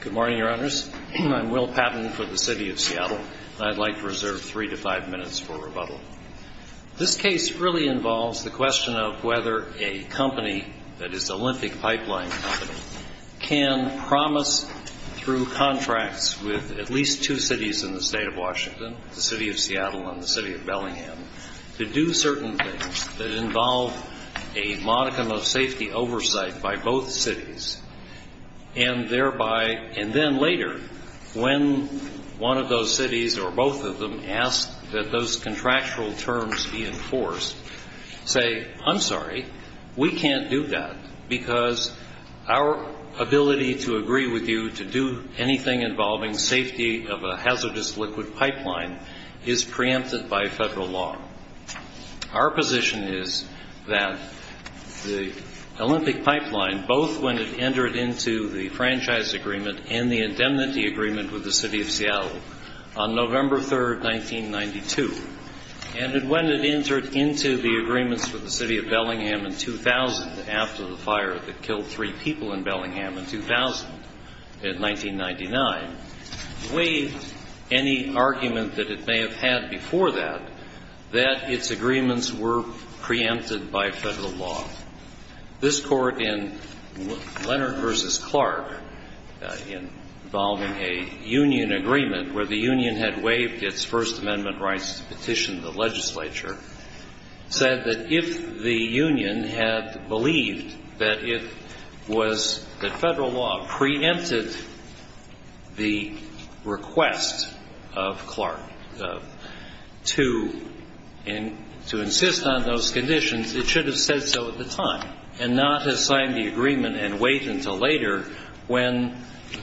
Good morning, Your Honors. I'm Will Patton for the City of Seattle, and I'd like to reserve three to five minutes for rebuttal. This case really involves the question of whether a company, that is the Olympic Pipeline Company, can promise through contracts with at least two cities in the state of Washington, the City of Seattle and the City of Bellingham, to do certain things that involve a modicum of safety oversight by both cities. And then later, when one of those cities or both of them ask that those contractual terms be enforced, say, I'm sorry, we can't do that because our ability to agree with you to do anything involving safety of a hazardous liquid pipeline is preempted by federal law. Our position is that the Olympic Pipeline, both when it entered into the franchise agreement and the indemnity agreement with the City of Seattle on November 3, 1992, and when it entered into the agreements with the City of Bellingham in 2000 after the fire that killed three people in Bellingham in 2000, in 1999, waived any argument that it may have had before that, that its agreements were preempted by federal law. This Court in Leonard v. Clark, involving a union agreement where the union had waived its First Amendment rights to petition the legislature, said that if the union had believed that it was that federal law preempted the request of Clark to insist on those conditions, it should have said so at the time and not have signed the agreement and wait until later when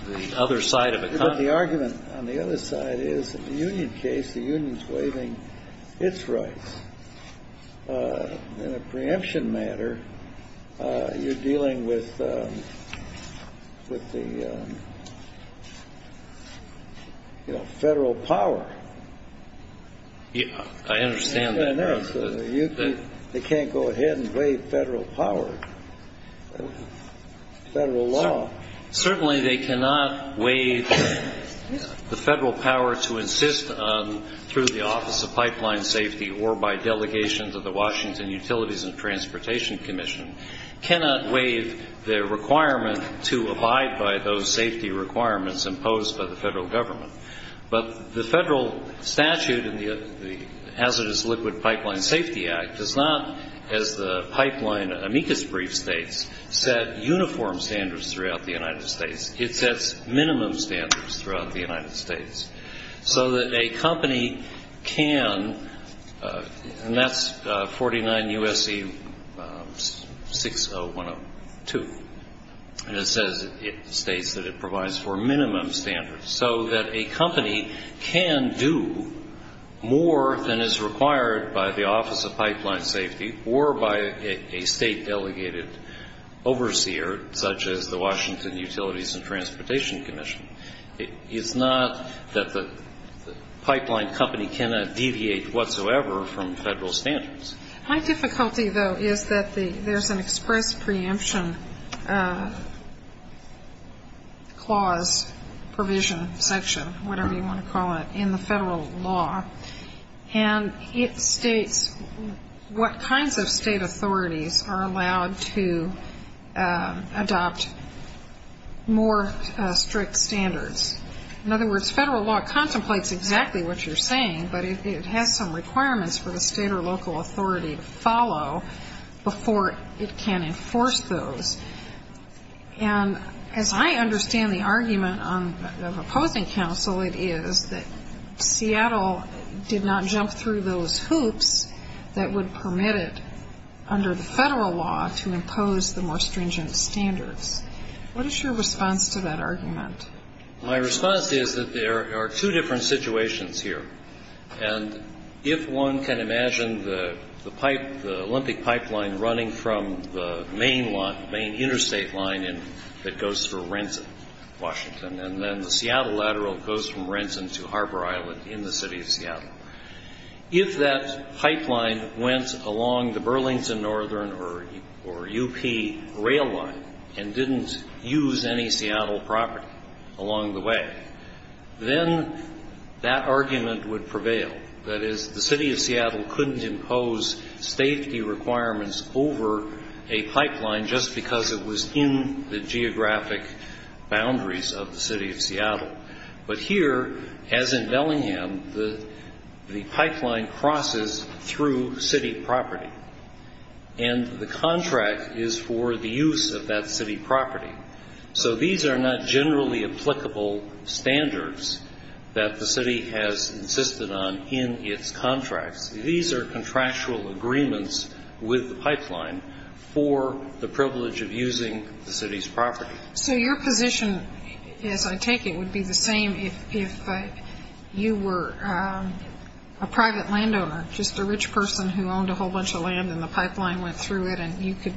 the other side of the country is, in the union case, the union is waiving its rights. In a preemption matter, you're dealing with the federal power. I understand that. They can't go ahead and waive federal power, federal law. Certainly, they cannot waive the federal power to insist through the Office of Pipeline Safety or by delegation to the Washington Utilities and Transportation Commission, cannot waive the requirement to abide by those safety requirements imposed by the federal government. But the federal statute in the Hazardous Liquid Pipeline Safety Act does not, as the pipeline amicus brief states, set uniform standards throughout the United States. It sets minimum standards throughout the United States so that a company can, and that's 49 U.S.C. 60102, and it states that it provides for minimum standards, so that a company can do more than is required by the Office of Pipeline Safety or by a state-delegated overseer, such as the Washington Utilities and Transportation Commission. It's not that the pipeline company cannot deviate whatsoever from federal standards. My difficulty, though, is that there's an express preemption clause, provision, section, whatever you want to call it, in the federal law, and it states what kinds of state authorities are allowed to adopt more strict standards. In other words, federal law contemplates exactly what you're saying, but it has some requirements for the state or local authority to follow before it can enforce those. And as I understand the argument of opposing counsel, it is that Seattle did not jump through those hoops that would permit it under the federal law to impose the more stringent standards. What is your response to that argument? My response is that there are two different situations here, and if one can imagine the Olympic pipeline running from the main interstate line that goes through Renton, Washington, and then the Seattle lateral goes from Renton to Harbor Island in the city of Seattle, if that pipeline went along the Burlington Northern or UP rail line and didn't use any Seattle property along the way, then that argument would prevail. That is, the city of Seattle couldn't impose safety requirements over a pipeline just because it was in the geographic boundaries of the city of Seattle. But here, as in Bellingham, the pipeline crosses through city property, and the contract is for the use of that city property. So these are not generally applicable standards that the city has insisted on in its contracts. These are contractual agreements with the pipeline for the privilege of using the city's property. So your position, as I take it, would be the same if you were a private landowner, just a rich person who owned a whole bunch of land and the pipeline went through it, and you could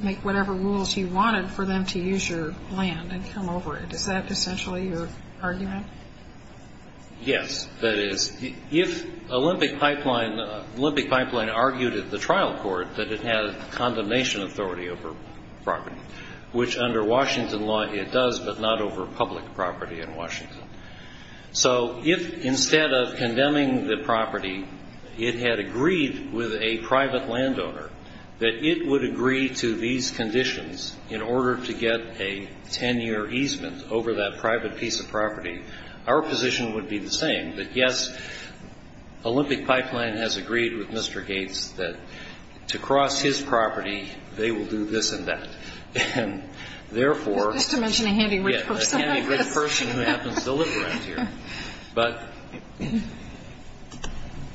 make whatever rules you wanted for them to use your land and come over it. Is that essentially your argument? Yes, that is. If Olympic Pipeline argued at the trial court that it had a condemnation authority over property, which under Washington law it does but not over public property in Washington, so if instead of condemning the property, it had agreed with a private landowner that it would agree to these conditions in order to get a 10-year easement over that private piece of property, our position would be the same. But yes, Olympic Pipeline has agreed with Mr. Gates that to cross his property, they will do this and that. And therefore ñ Just to mention a handy rich person like this. Yes, a handy rich person who happens to live around here. But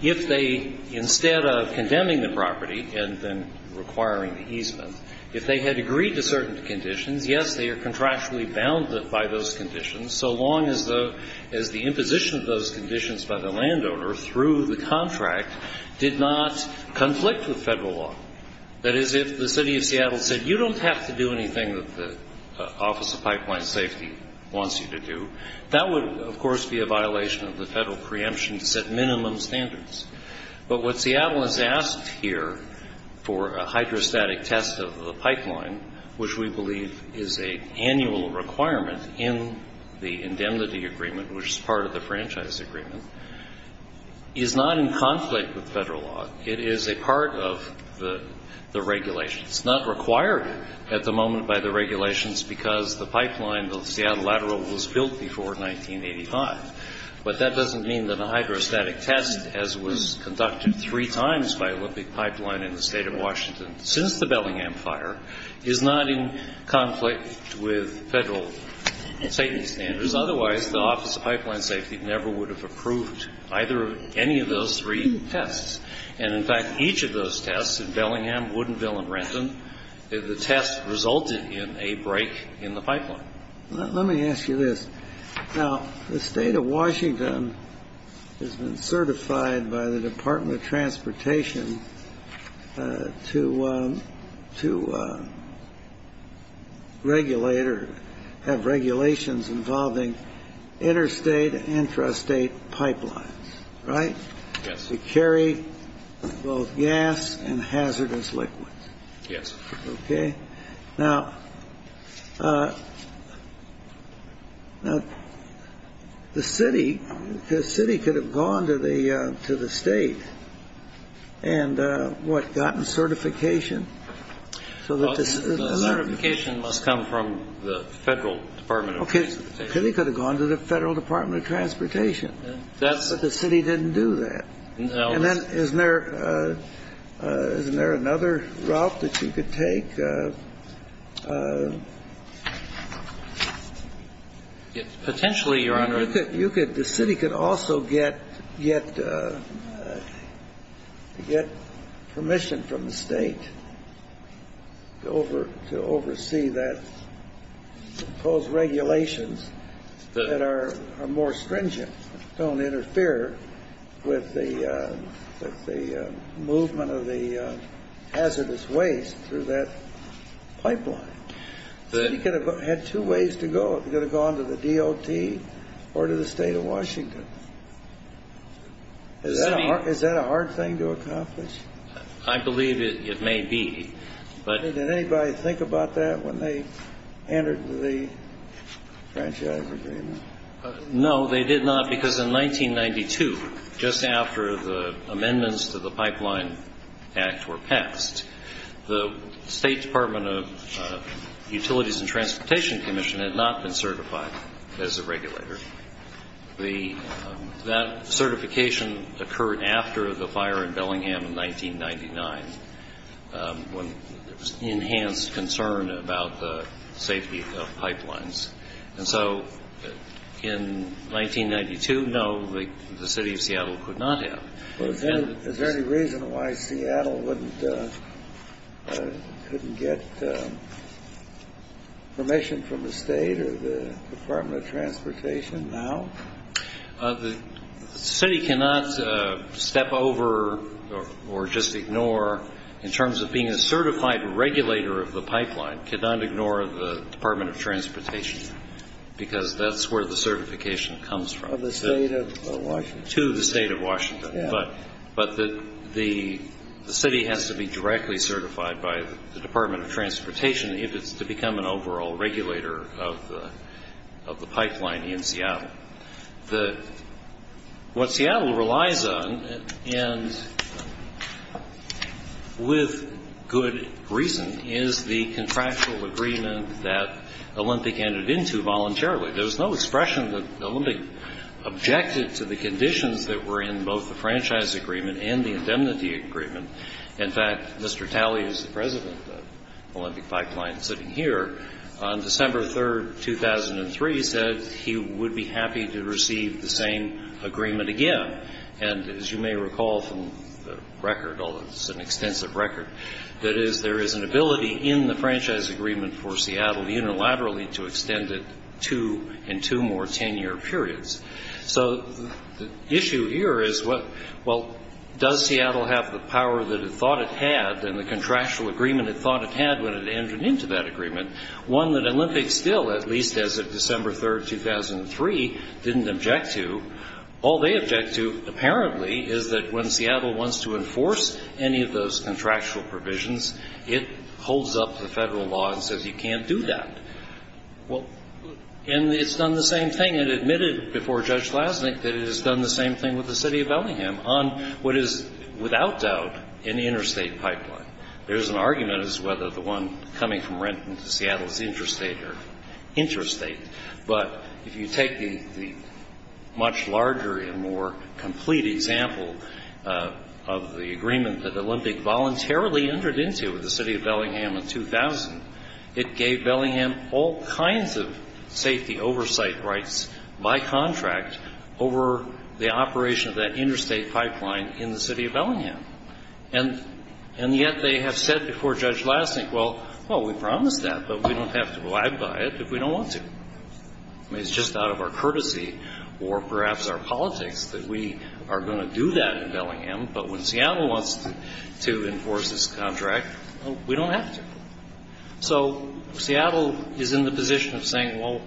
if they, instead of condemning the property and then requiring the easement, if they had agreed to certain conditions, yes, they are contractually bounded by those conditions, so long as the imposition of those conditions by the landowner through the contract did not conflict with Federal law. That is, if the City of Seattle said, ìYou donít have to do anything that the Office of Pipeline Safety wants you to do,î that would, of course, be a violation of the Federal preemption to set minimum standards. But what Seattle has asked here for a hydrostatic test of the pipeline, which we believe is an annual requirement in the indemnity agreement, which is part of the franchise agreement, is not in conflict with Federal law. It is a part of the regulations. Itís not required at the moment by the regulations because the pipeline, the Seattle Lateral, was built before 1985. But that doesnít mean that a hydrostatic test, as was conducted three times by Olympic Pipeline in the State of Washington since the Bellingham Fire, is not in conflict with Federal safety standards. Otherwise, the Office of Pipeline Safety never would have approved any of those three tests. And, in fact, each of those tests in Bellingham, Woodinville, and Renton, the tests resulted in a break in the pipeline. Let me ask you this. Now, the State of Washington has been certified by the Department of Transportation to regulate or have regulations involving interstate and intrastate pipelines, right? Yes. To carry both gas and hazardous liquids. Yes. Okay. Now, the city could have gone to the State and, what, gotten certification? The certification must come from the Federal Department of Transportation. Okay. They could have gone to the Federal Department of Transportation. But the city didnít do that. And then isnít there another route that you could take? Potentially, Your Honor. The city could also get permission from the State to oversee those regulations that are more stringent, donít interfere with the movement of the hazardous waste through that pipeline. The city could have had two ways to go. It could have gone to the DOT or to the State of Washington. Is that a hard thing to accomplish? I believe it may be. Did anybody think about that when they entered the franchise agreement? No, they did not, because in 1992, just after the amendments to the Pipeline Act were passed, the State Department of Utilities and Transportation Commission had not been certified as a regulator. That certification occurred after the fire in Bellingham in 1999 when there was enhanced concern about the safety of pipelines. And so in 1992, no, the City of Seattle could not have. Is there any reason why Seattle couldnít get permission from the State or the Department of Transportation now? The city cannot step over or just ignore, in terms of being a certified regulator of the pipeline, cannot ignore the Department of Transportation, because thatís where the certification comes from. To the State of Washington. But the city has to be directly certified by the Department of Transportation if itís to become an overall regulator of the pipeline in Seattle. What Seattle relies on, and with good reason, is the contractual agreement that Olympic entered into voluntarily. There was no expression that Olympic objected to the conditions that were in both the franchise agreement and the indemnity agreement. In fact, Mr. Talley, whoís the president of Olympic Pipeline sitting here, on December 3, 2003, said he would be happy to receive the same agreement again. And as you may recall from the record, although itís an extensive record, that is, there is an ability in the franchise agreement for Seattle unilaterally to extend it two and two more ten-year periods. So the issue here is, well, does Seattle have the power that it thought it had and the contractual agreement it thought it had when it entered into that agreement, one that Olympic still, at least as of December 3, 2003, didnít object to? All they object to, apparently, is that when Seattle wants to enforce any of those contractual provisions, it holds up the Federal law and says you canít do that. And itís done the same thing. It admitted before Judge Lasnik that it has done the same thing with the City of Bellingham on what is, without doubt, an interstate pipeline. Thereís an argument as to whether the one coming from Renton to Seattle is interstate or interstate. But if you take the much larger and more complete example of the agreement that Olympic voluntarily entered into with the City of Bellingham in 2000, it gave Bellingham all kinds of safety oversight rights by contract over the operation of that interstate pipeline in the City of Bellingham. And yet they have said before Judge Lasnik, well, we promised that, but we donít have to abide by it if we donít want to. Itís just out of our courtesy or perhaps our politics that we are going to do that in Bellingham, but when Seattle wants to enforce this contract, we donít have to. So Seattle is in the position of saying, well,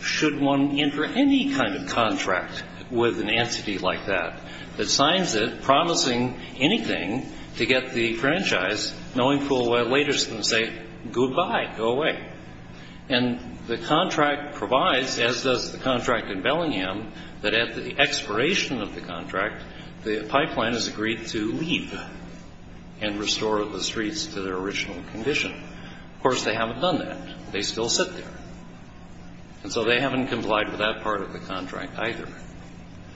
should one enter any kind of contract with an entity like that that signs it promising anything to get the franchise, knowing full well later itís going to say, ìGoodbye. Go away.î And the contract provides, as does the contract in Bellingham, that at the expiration of the contract, the pipeline is agreed to leave and restore the streets to their original condition. Of course, they havenít done that. They still sit there. And so they havenít complied with that part of the contract either.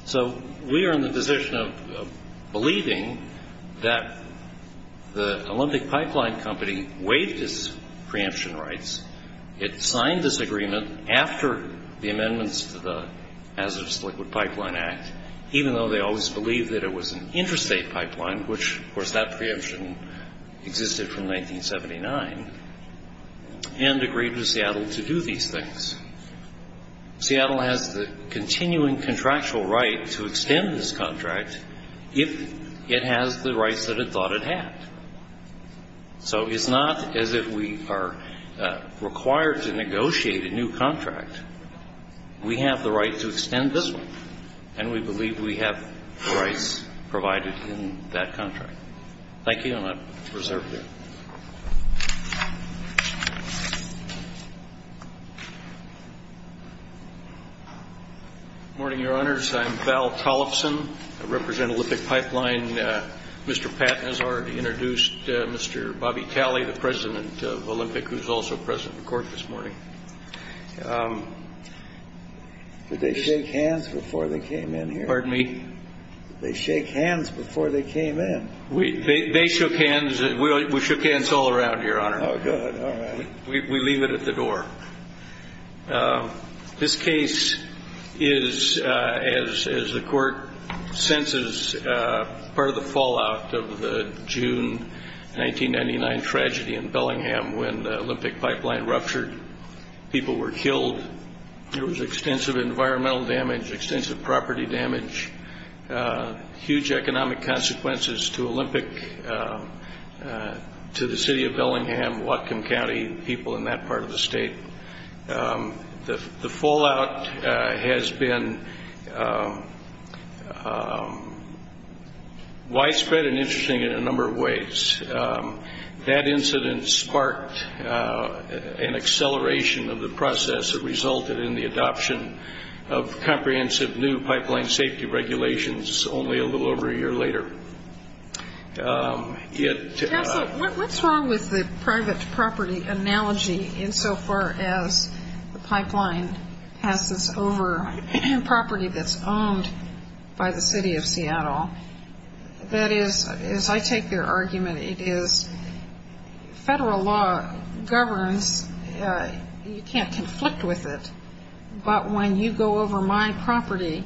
So we are in the position of believing that the Olympic Pipeline Company waived its preemption rights. It signed this agreement after the amendments to the Hazardous Liquid Pipeline Act, even though they always believed that it was an interstate pipeline, which, of course, that preemption existed from 1979, and agreed with Seattle to do these things. Seattle has the continuing contractual right to extend this contract if it has the rights that it thought it had. So itís not as if we are required to negotiate a new contract. We have the right to extend this one, and we believe we have the rights provided in that contract. Thank you, and Iíve reserved it. Good morning, Your Honors. Iím Val Cholifson. I represent Olympic Pipeline. Mr. Patton has already introduced Mr. Bobby Talley, the president of Olympic, whoís also president of the court this morning. Did they shake hands before they came in here? Pardon me? Did they shake hands before they came in? They shook hands. We shook hands all around, Your Honor. Oh, good. All right. We leave it at the door. This case is, as the court senses, part of the fallout of the June 1999 tragedy in Bellingham when the Olympic Pipeline ruptured. People were killed. There was extensive environmental damage, extensive property damage, huge economic consequences to Olympic, to the city of Bellingham, Whatcom County, people in that part of the state. The fallout has been widespread and interesting in a number of ways. That incident sparked an acceleration of the process that resulted in the adoption of comprehensive new pipeline safety regulations only a little over a year later. Whatís wrong with the private property analogy insofar as the pipeline passes over property thatís owned by the city of Seattle? That is, as I take your argument, it is federal law governs. You canít conflict with it. But when you go over my property,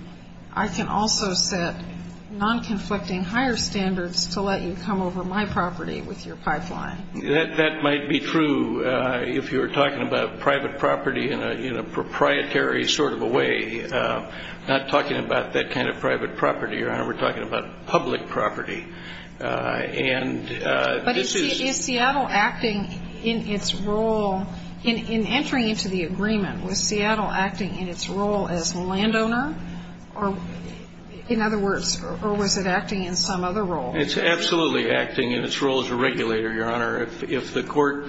I can also set non-conflicting higher standards to let you come over my property with your pipeline. That might be true if youíre talking about private property in a proprietary sort of a way, not talking about that kind of private property, Your Honor. Weíre talking about public property. But is Seattle acting in its roleóin entering into the agreement, was Seattle acting in its role as landowner? In other words, or was it acting in some other role? Itís absolutely acting in its role as a regulator, Your Honor. If the court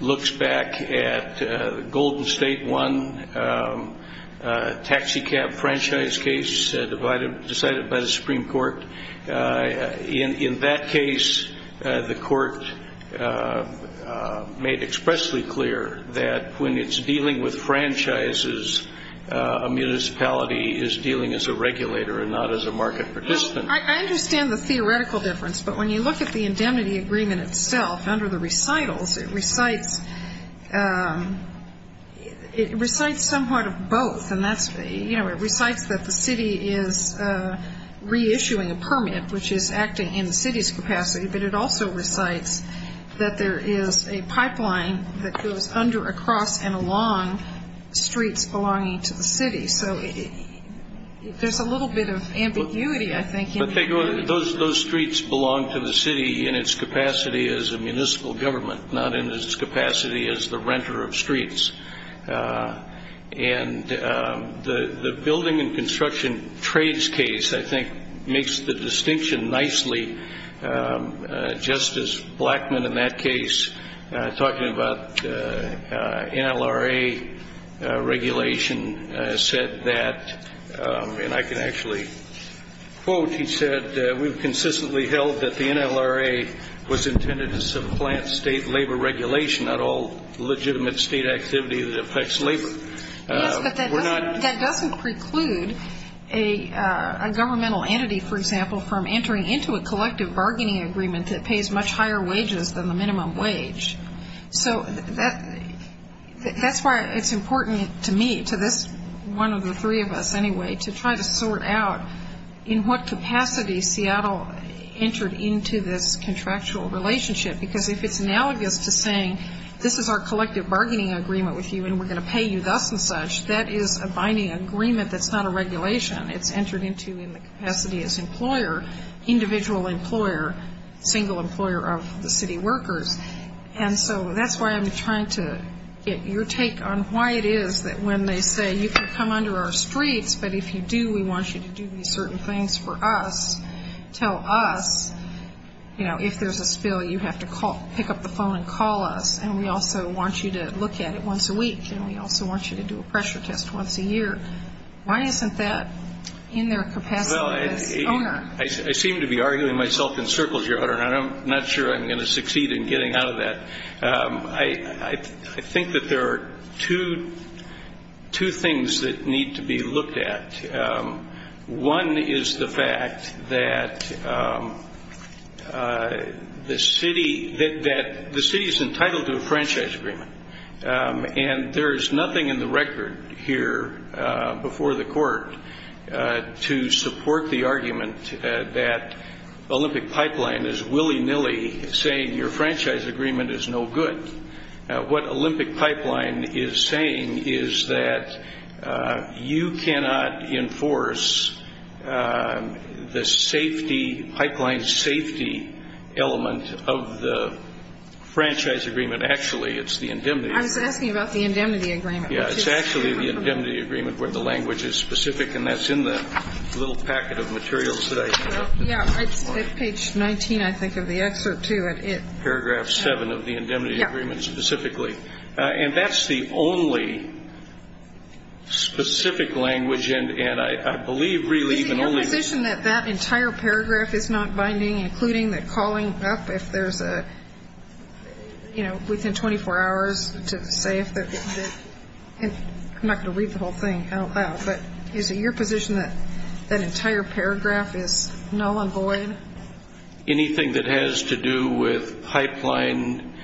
looks back at the Golden State 1 taxicab franchise case decided by the Supreme Court, in that case, the court made expressly clear that when itís dealing with franchises, a municipality is dealing as a regulator and not as a market participant. I understand the theoretical difference. But when you look at the indemnity agreement itself under the recitals, it recites some part of both. It recites that the city is reissuing a permit, which is acting in the cityís capacity, but it also recites that there is a pipeline that goes under, across, and along streets belonging to the city. So thereís a little bit of ambiguity, I think. But those streets belong to the city in its capacity as a municipal government, not in its capacity as the renter of streets. And the building and construction trades case, I think, makes the distinction nicely, just as Blackman in that case, talking about NLRA regulation, said that, and I can actually quote, he said, ìWeíve consistently held that the NLRA was intended to supplant state labor regulation, not all legitimate state activity that affects labor.î Yes, but that doesnít preclude a governmental entity, for example, from entering into a collective bargaining agreement that pays much higher wages than the minimum wage. So thatís why itís important to me, to this one of the three of us anyway, to try to sort out in what capacity Seattle entered into this contractual relationship. Because if itís analogous to saying, ìThis is our collective bargaining agreement with you, and weíre going to pay you thus and such.î That is a binding agreement thatís not a regulation. Itís entered into in the capacity as employer, individual employer, single employer of the city workers. And so thatís why Iím trying to get your take on why it is that when they say, ìYou can come under our streets, but if you do, we want you to do these certain things for us.î You know, ìIf thereís a spill, you have to pick up the phone and call us, and we also want you to look at it once a week, and we also want you to do a pressure test once a year.î Why isnít that in their capacity as owner? I seem to be arguing myself in circles, Your Honor, and Iím not sure Iím going to succeed in getting out of that. I think that there are two things that need to be looked at. One is the fact that the city is entitled to a franchise agreement, and there is nothing in the record here before the court to support the argument that Olympic Pipeline is willy-nilly saying your franchise agreement is no good. What Olympic Pipeline is saying is that you cannot enforce the safety, Pipelineís safety element of the franchise agreement. Actually, itís the indemnity. I was asking about the indemnity agreement. Yeah, itís actually the indemnity agreement where the language is specific, and thatís in the little packet of materials that I have. Yeah, itís at page 19, I think, of the excerpt to it. Paragraph 7 of the indemnity agreement specifically. Yeah. And thatís the only specific language, and I believe really even onlyó Is it your position that that entire paragraph is not binding, including the calling up if thereís a, you know, within 24 hours to say if theó Iím not going to read the whole thing out loud, but is it your position that that entire paragraph is null and void? Anything that has to do with Pipeline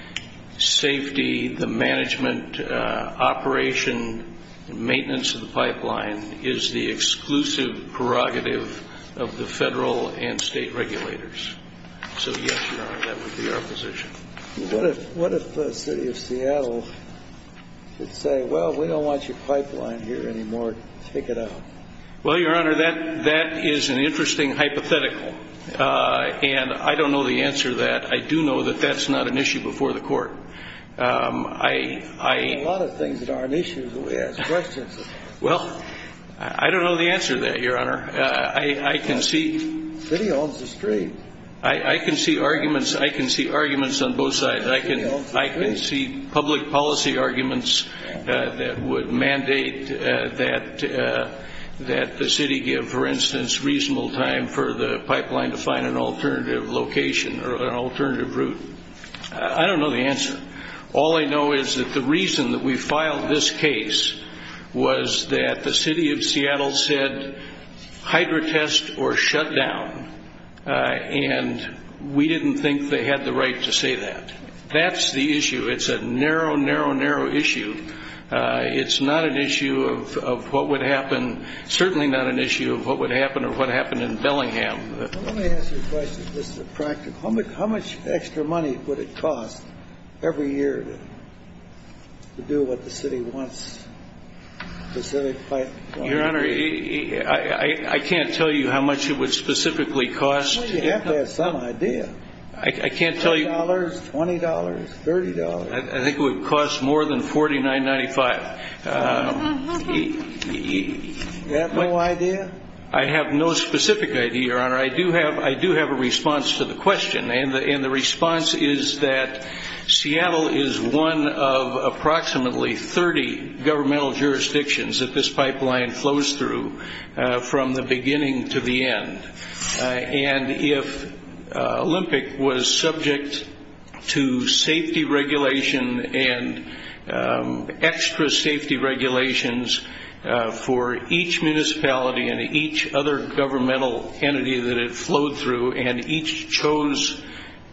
safety, the management operation, maintenance of the Pipeline, is the exclusive prerogative of the federal and state regulators. So, yes, Your Honor, that would be our position. What if the city of Seattle would say, ìWell, we donít want your Pipeline here anymore. Take it out.î Well, Your Honor, that is an interesting hypothetical. And I donít know the answer to that. I do know that thatís not an issue before the Court. Ió There are a lot of things that are an issue that we ask questions of. Well, I donít know the answer to that, Your Honor. I can seeó The city owns the street. The city owns the street. I can see public policy arguments that would mandate that the city give, for instance, reasonable time for the Pipeline to find an alternative location or an alternative route. I donít know the answer. All I know is that the reason that we filed this case was that the city of Seattle said, ìHydrotest or shut down.î And we didnít think they had the right to say that. Thatís the issue. Itís a narrow, narrow, narrow issue. Itís not an issue of what would happenó certainly not an issue of what would happen or what happened in Bellingham. Let me ask you a question. This is a practicaló How much extra money would it cost every year to do what the city wants, the Civic Pipeline? Your Honor, I canít tell you how much it would specifically cost. Well, you have to have some idea. I canít tell youó $10, $20, $30. I think it would cost more than $49.95. You have no idea? I have no specific idea, Your Honor. I do have a response to the question, and the response is that Seattle is one of approximately 30 governmental jurisdictions that this Pipeline flows through from the beginning to the end. And if Olympic was subject to safety regulation and extra safety regulations for each municipality and each other governmental entity that it flowed through and each chose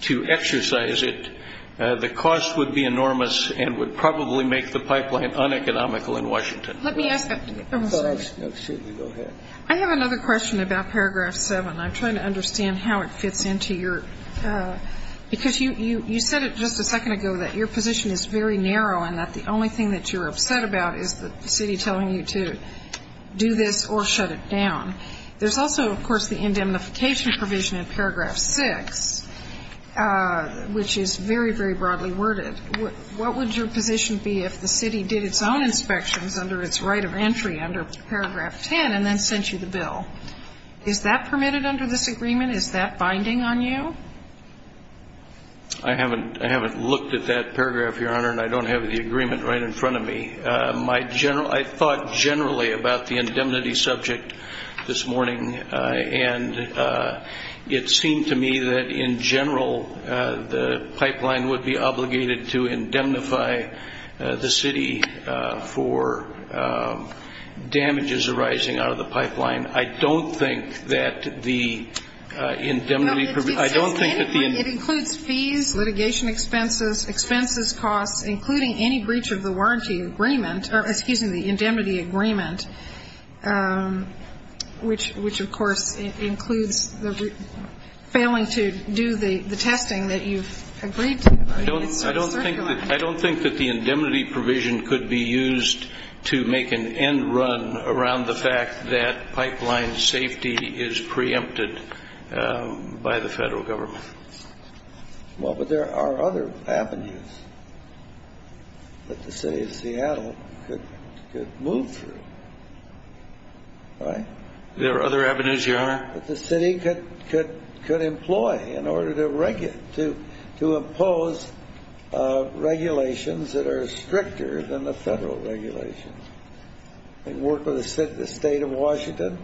to exercise it, the cost would be enormous and would probably make the Pipeline uneconomical in Washington. Let me ask a question. I have another question about paragraph 7. Iím trying to understand how it fits into youró because you said it just a second ago that your position is very narrow and that the only thing that youíre upset about is the city telling you to do this or shut it down. Thereís also, of course, the indemnification provision in paragraph 6, which is very, very broadly worded. What would your position be if the city did its own inspections under its right of entry under paragraph 10 and then sent you the bill? Is that permitted under this agreement? Is that binding on you? I havenít looked at that paragraph, Your Honor, and I donít have the agreement right in front of me. I thought generally about the indemnity subject this morning, and it seemed to me that, in general, the Pipeline would be obligated to indemnify the city for damages arising out of the Pipeline. I donít think that the indemnityó No, it saysó I donít think that the indemnityó It includes fees, litigation expenses, expenses costs, including any breach of the warranty agreementóor, excuse me, the indemnity agreement, which, of course, includes failing to do the testing that youíve agreed to. Itís sort of circulating. I donít think that the indemnity provision could be used to make an end run around the fact that Pipeline safety is preempted by the Federal Government. Well, but there are other avenues that the city of Seattle could move through. Right? There are other avenues, Your Honor. That the city could employ in order to impose regulations that are stricter than the Federal regulations, and work with the State of Washington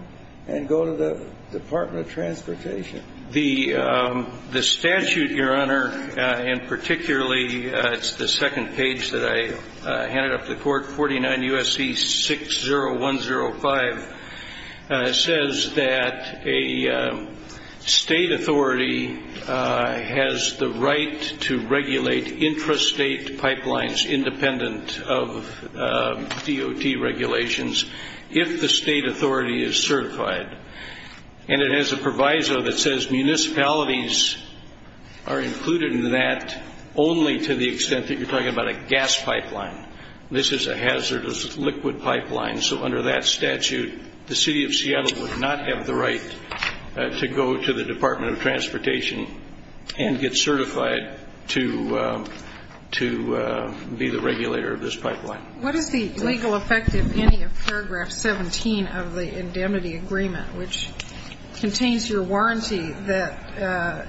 and go to the Department of Transportation. The statute, Your Honor, and particularlyó the case that I handed up to the Court, 49 U.S.C. 60105, says that a State authority has the right to regulate intrastate pipelines independent of DOT regulations if the State authority is certified. And it has a proviso that says municipalities are included in that only to the extent that youíre talking about a gas pipeline. This is a hazardous liquid pipeline. So under that statute, the city of Seattle would not have the right to go to the Department of Transportation and get certified to be the regulator of this pipeline. What is the legal effect of any of paragraph 17 of the indemnity agreement, which contains your warranty that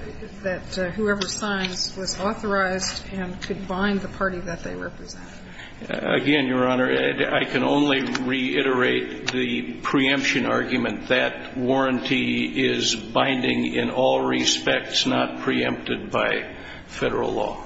whoever signs was authorized and could bind the party that they represented? Again, Your Honor, I can only reiterate the preemption argument. That warranty is binding in all respects, not preempted by Federal law.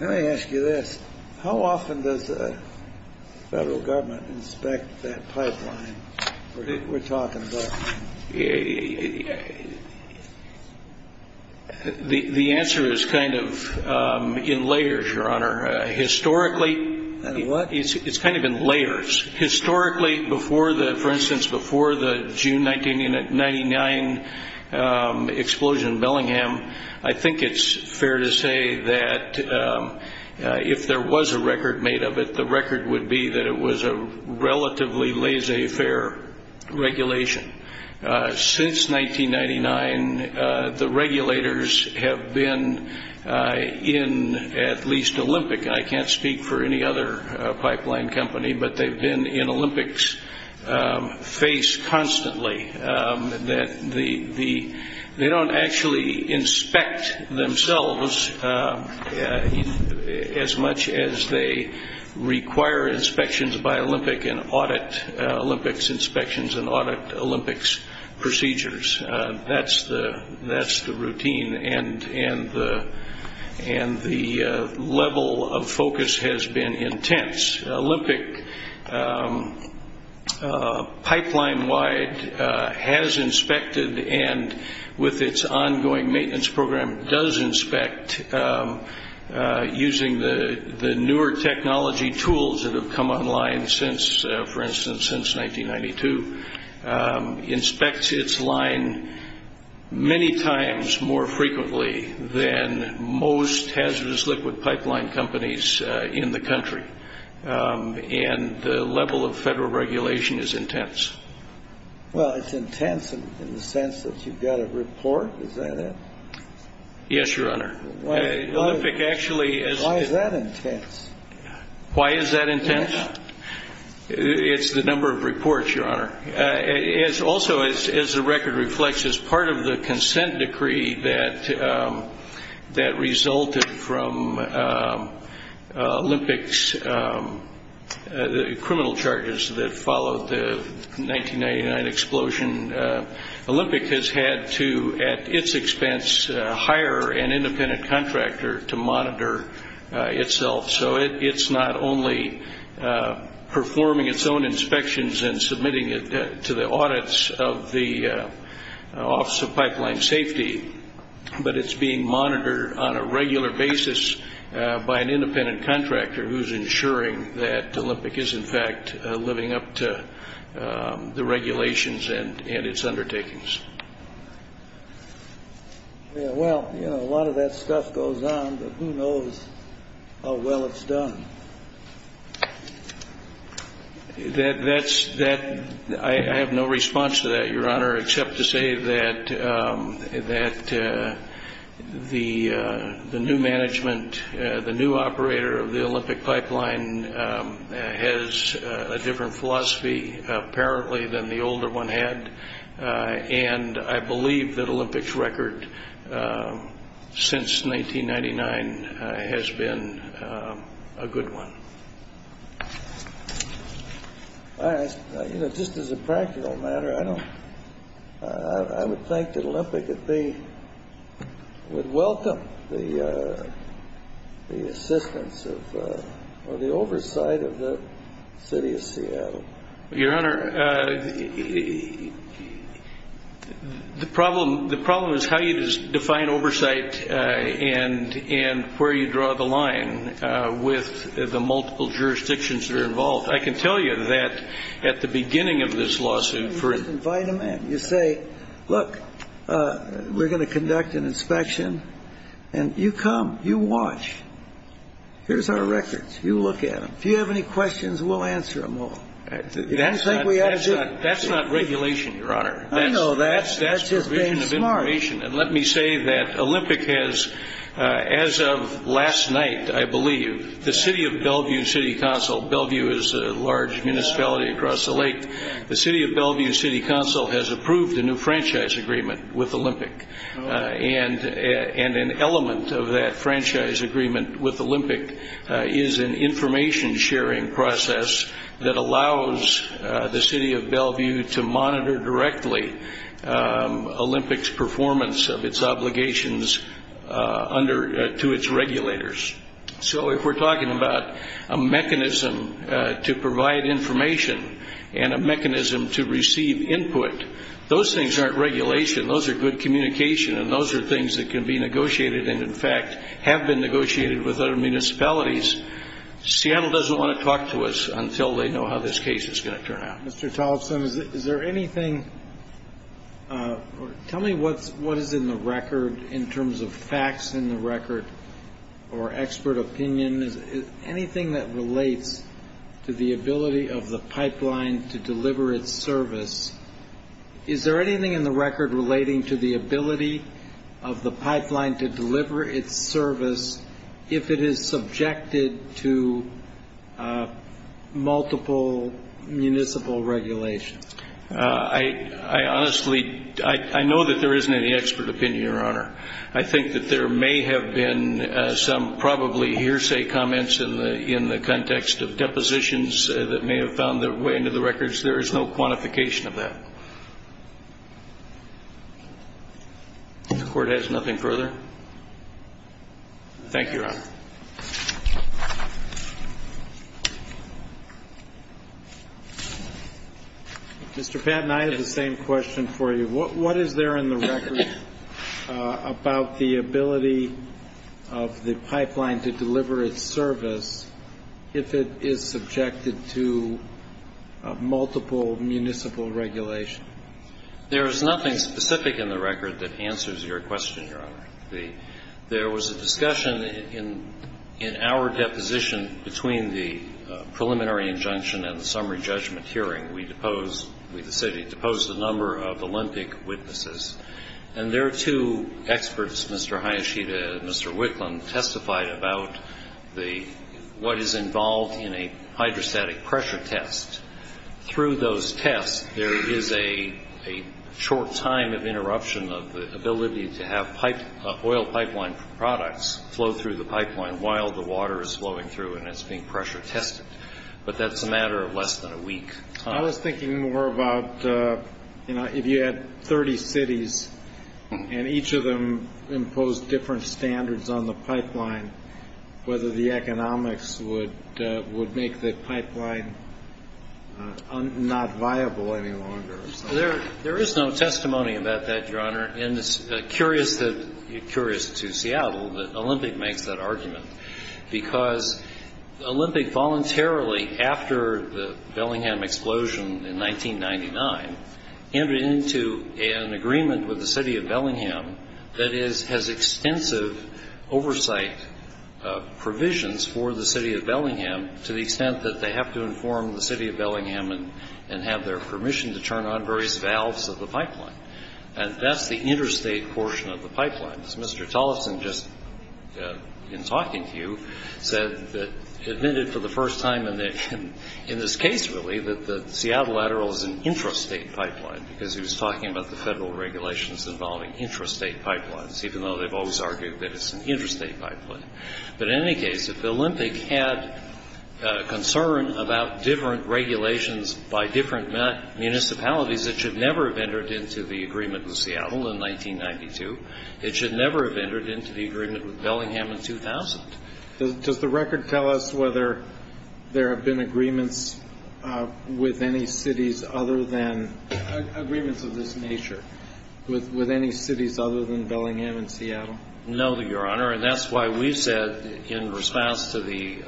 Let me ask you this. How often does the Federal Government inspect that pipeline weíre talking about? The answer is kind of in layers, Your Honor. Historicallyó In what? Itís kind of in layers. Historically, for instance, before the June 1999 explosion in Bellingham, I think itís fair to say that if there was a record made of it, the record would be that it was a relatively laissez-faire regulation. Since 1999, the regulators have been in at least Olympicó but theyíve been in Olympicís face constantly. They donít actually inspect themselves as much as they require inspections by Olympic and audit Olympics inspections and audit Olympics procedures. Thatís the routine. The level of focus has been intense. Olympic, pipeline-wide, has inspected and with its ongoing maintenance program does inspect using the newer technology tools that have come online, for instance, since 1992. It inspects its line many times more frequently than most hazardous liquid pipeline companies in the country. And the level of Federal regulation is intense. Well, itís intense in the sense that youíve got a report. Is that it? Yes, Your Honor. Why is that intense? Why is that intense? Itís the number of reports, Your Honor. Also, as the record reflects, as part of the consent decree that resulted from Olympicís criminal charges that followed the 1999 explosion, Olympic has had to, at its expense, hire an independent contractor to monitor itself. So itís not only performing its own inspections and submitting it to the audits of the Office of Pipeline Safety, but itís being monitored on a regular basis by an independent contractor whoís ensuring that Olympic is, in fact, living up to the regulations and its undertakings. Yeah, well, you know, a lot of that stuff goes on, but who knows how well itís done. ThatísóI have no response to that, Your Honor, except to say that the new management, the new operator of the Olympic pipeline has a different philosophy, apparently, than the older one had. And I believe that Olympicís record since 1999 has been a good one. I ask, you know, just as a practical matter, I donítóI would think that Olympic, if they would welcome the assistance ofóor the oversight of the city of Seattle. Your Honor, the problem is how you define oversight and where you draw the line with the multiple jurisdictions that are involved. I can tell you that at the beginning of this lawsuit foró You invite them in. You say, ìLook, weíre going to conduct an inspection.î And you come. You watch. Hereís our records. You look at them. If you have any questions, weíll answer them all. Thatís not regulation, Your Honor. I know. Thatís just being smart. Thatís provision of information. And let me say that Olympic has, as of last night, I believe, the city of Bellevue City Counciló Bellevue is a large municipality across the lakeó the city of Bellevue City Council has approved a new franchise agreement with Olympic. And an element of that franchise agreement with Olympic is an information-sharing process that allows the city of Bellevue to monitor directly Olympicís performance of its obligations to its regulators. So if weíre talking about a mechanism to provide information and a mechanism to receive input, those things arenít regulation. Those are good communication, and those are things that can be negotiated and, in fact, have been negotiated with other municipalities. Seattle doesnít want to talk to us until they know how this case is going to turn out. Mr. Tolleson, is there anythingó tell me what is in the record in terms of facts in the record or expert opinion, anything that relates to the ability of the pipeline to deliver its service. Is there anything in the record relating to the ability of the pipeline to deliver its service if it is subjected to multiple municipal regulations? I honestlyóI know that there isnít any expert opinion, Your Honor. I think that there may have been some probably hearsay comments in the context of depositions that may have found their way into the records. There is no quantification of that. The Court has nothing further. Thank you, Your Honor. Mr. Patton, I have the same question for you. What is there in the record about the ability of the pipeline to deliver its service if it is subjected to multiple municipal regulations? There is nothing specific in the record that answers your question, Your Honor. There was a discussion in our deposition between the preliminary injunction and the summary judgment hearing. We deposedówe, the city, deposed a number of Olympic witnesses. And their two experts, Mr. Hayashida and Mr. Wicklund, testified about what is involved in a hydrostatic pressure test. Through those tests, there is a short time of interruption of the ability to have oil pipeline products flow through the pipeline while the water is flowing through and itís being pressure tested. But thatís a matter of less than a week. I was thinking more about, you know, if you had 30 cities and each of them imposed different standards on the pipeline, whether the economics would make the pipeline not viable any longer. There is no testimony about that, Your Honor. And itís curious to Seattle that Olympic makes that argument because Olympic voluntarily, after the Bellingham explosion in 1999, entered into an agreement with the city of Bellingham that has extensive oversight provisions for the city of Bellingham to the extent that they have to inform the city of Bellingham and have their permission to turn on various valves of the pipeline. And thatís the interstate portion of the pipeline. As Mr. Tollefson just, in talking to you, admitted for the first time in this case, really, that the Seattle lateral is an intrastate pipeline because he was talking about the federal regulations involving intrastate pipelines, even though theyíve always argued that itís an interstate pipeline. But in any case, if the Olympic had concern about different regulations by different municipalities, it should never have entered into the agreement with Seattle in 1992. It should never have entered into the agreement with Bellingham in 2000. Does the record tell us whether there have been agreements with any cities other thanó agreements of this nature with any cities other than Bellingham and Seattle? No, Your Honor. And thatís why weíve said, in response to the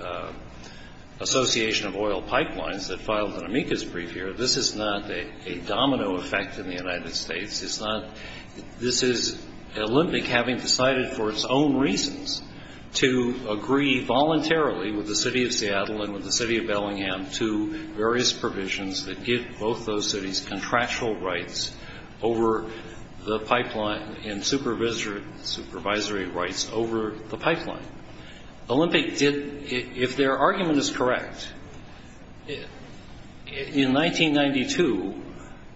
Association of Oil Pipelines that filed an amicus brief here, this is not a domino effect in the United States. Itís notóthis is Olympic having decided for its own reasons to agree voluntarily with the city of Seattle and with the city of Bellingham to various provisions that give both those cities contractual rights over the pipeline and supervisory rights over the pipeline. Olympic didóif their argument is correct, in 1992,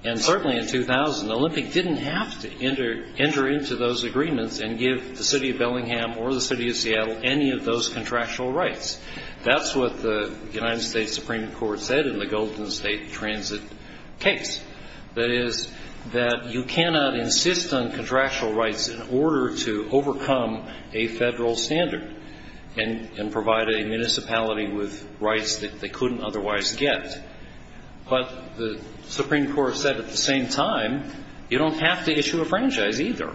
and certainly in 2000, Olympic didnít have to enter into those agreements and give the city of Bellingham or the city of Seattle any of those contractual rights. Thatís what the United States Supreme Court said in the Golden State Transit case. That is, that you cannot insist on contractual rights in order to overcome a federal standard and provide a municipality with rights that they couldnít otherwise get. But the Supreme Court said, at the same time, you donít have to issue a franchise either.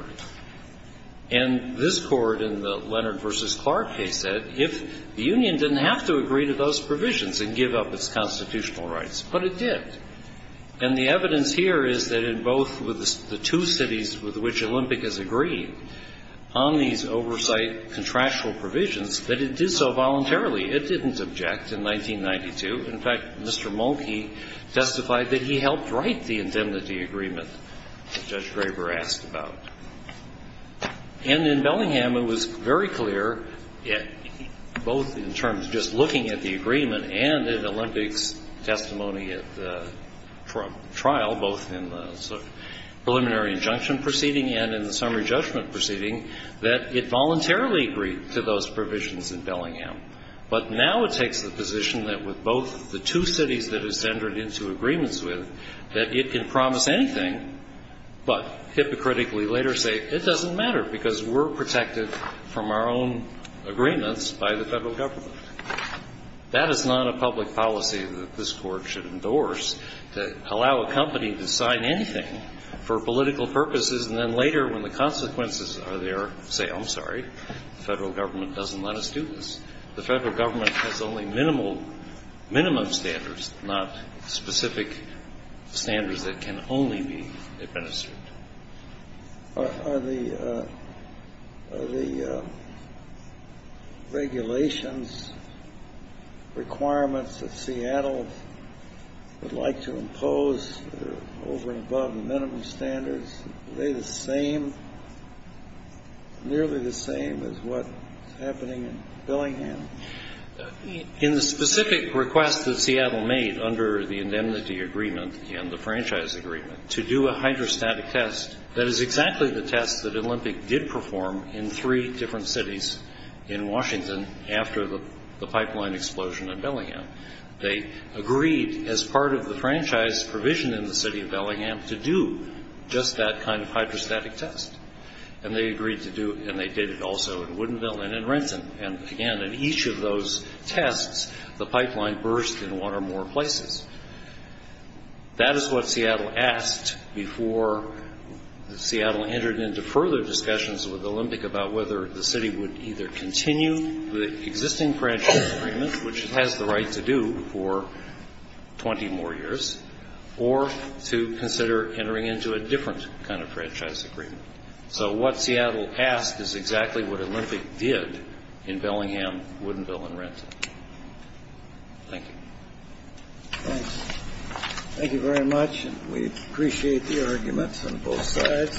And this Court in the Leonard v. Clark case said, if the union didnít have to agree to those provisions and give up its constitutional rights, but it did. And the evidence here is that in both the two cities with which Olympic has agreed, on these oversight contractual provisions, that it did so voluntarily. It didnít object in 1992. In fact, Mr. Mulkey testified that he helped write the indemnity agreement that Judge Draper asked about. And in Bellingham, it was very clear, both in terms of just looking at the agreement and at Olympicís testimony at the trial, both in the preliminary injunction proceeding and in the summary judgment proceeding, that it voluntarily agreed to those provisions in Bellingham. But now it takes the position that with both the two cities that itís entered into agreements with, that it can promise anything, but hypocritically later say, it doesnít matter because weíre protected from our own agreements by the federal government. That is not a public policy that this Court should endorse, to allow a company to sign anything for political purposes and then later, when the consequences are there, say, Iím sorry, the federal government doesnít let us do this. The federal government has only minimal minimum standards, not specific standards that can only be administered. Are the regulations requirements that Seattle would like to impose that are over and above the minimum standards, are they the same, nearly the same as whatís happening in Bellingham? In the specific request that Seattle made under the indemnity agreement and the franchise agreement, to do a hydrostatic test, that is exactly the test that Olympic did perform in three different cities in Washington after the pipeline explosion in Bellingham. They agreed, as part of the franchise provision in the city of Bellingham, to do just that kind of hydrostatic test. And they agreed to do it, and they did it also in Woodinville and in Renton. And again, in each of those tests, the pipeline burst in one or more places. That is what Seattle asked before Seattle entered into further discussions with Olympic about whether the city would either continue the existing franchise agreement, which it has the right to do for 20 more years, or to consider entering into a different kind of franchise agreement. So what Seattle asked is exactly what Olympic did in Bellingham, Woodinville, and Renton. Thank you. Thanks. Thank you very much. We appreciate the arguments on both sides.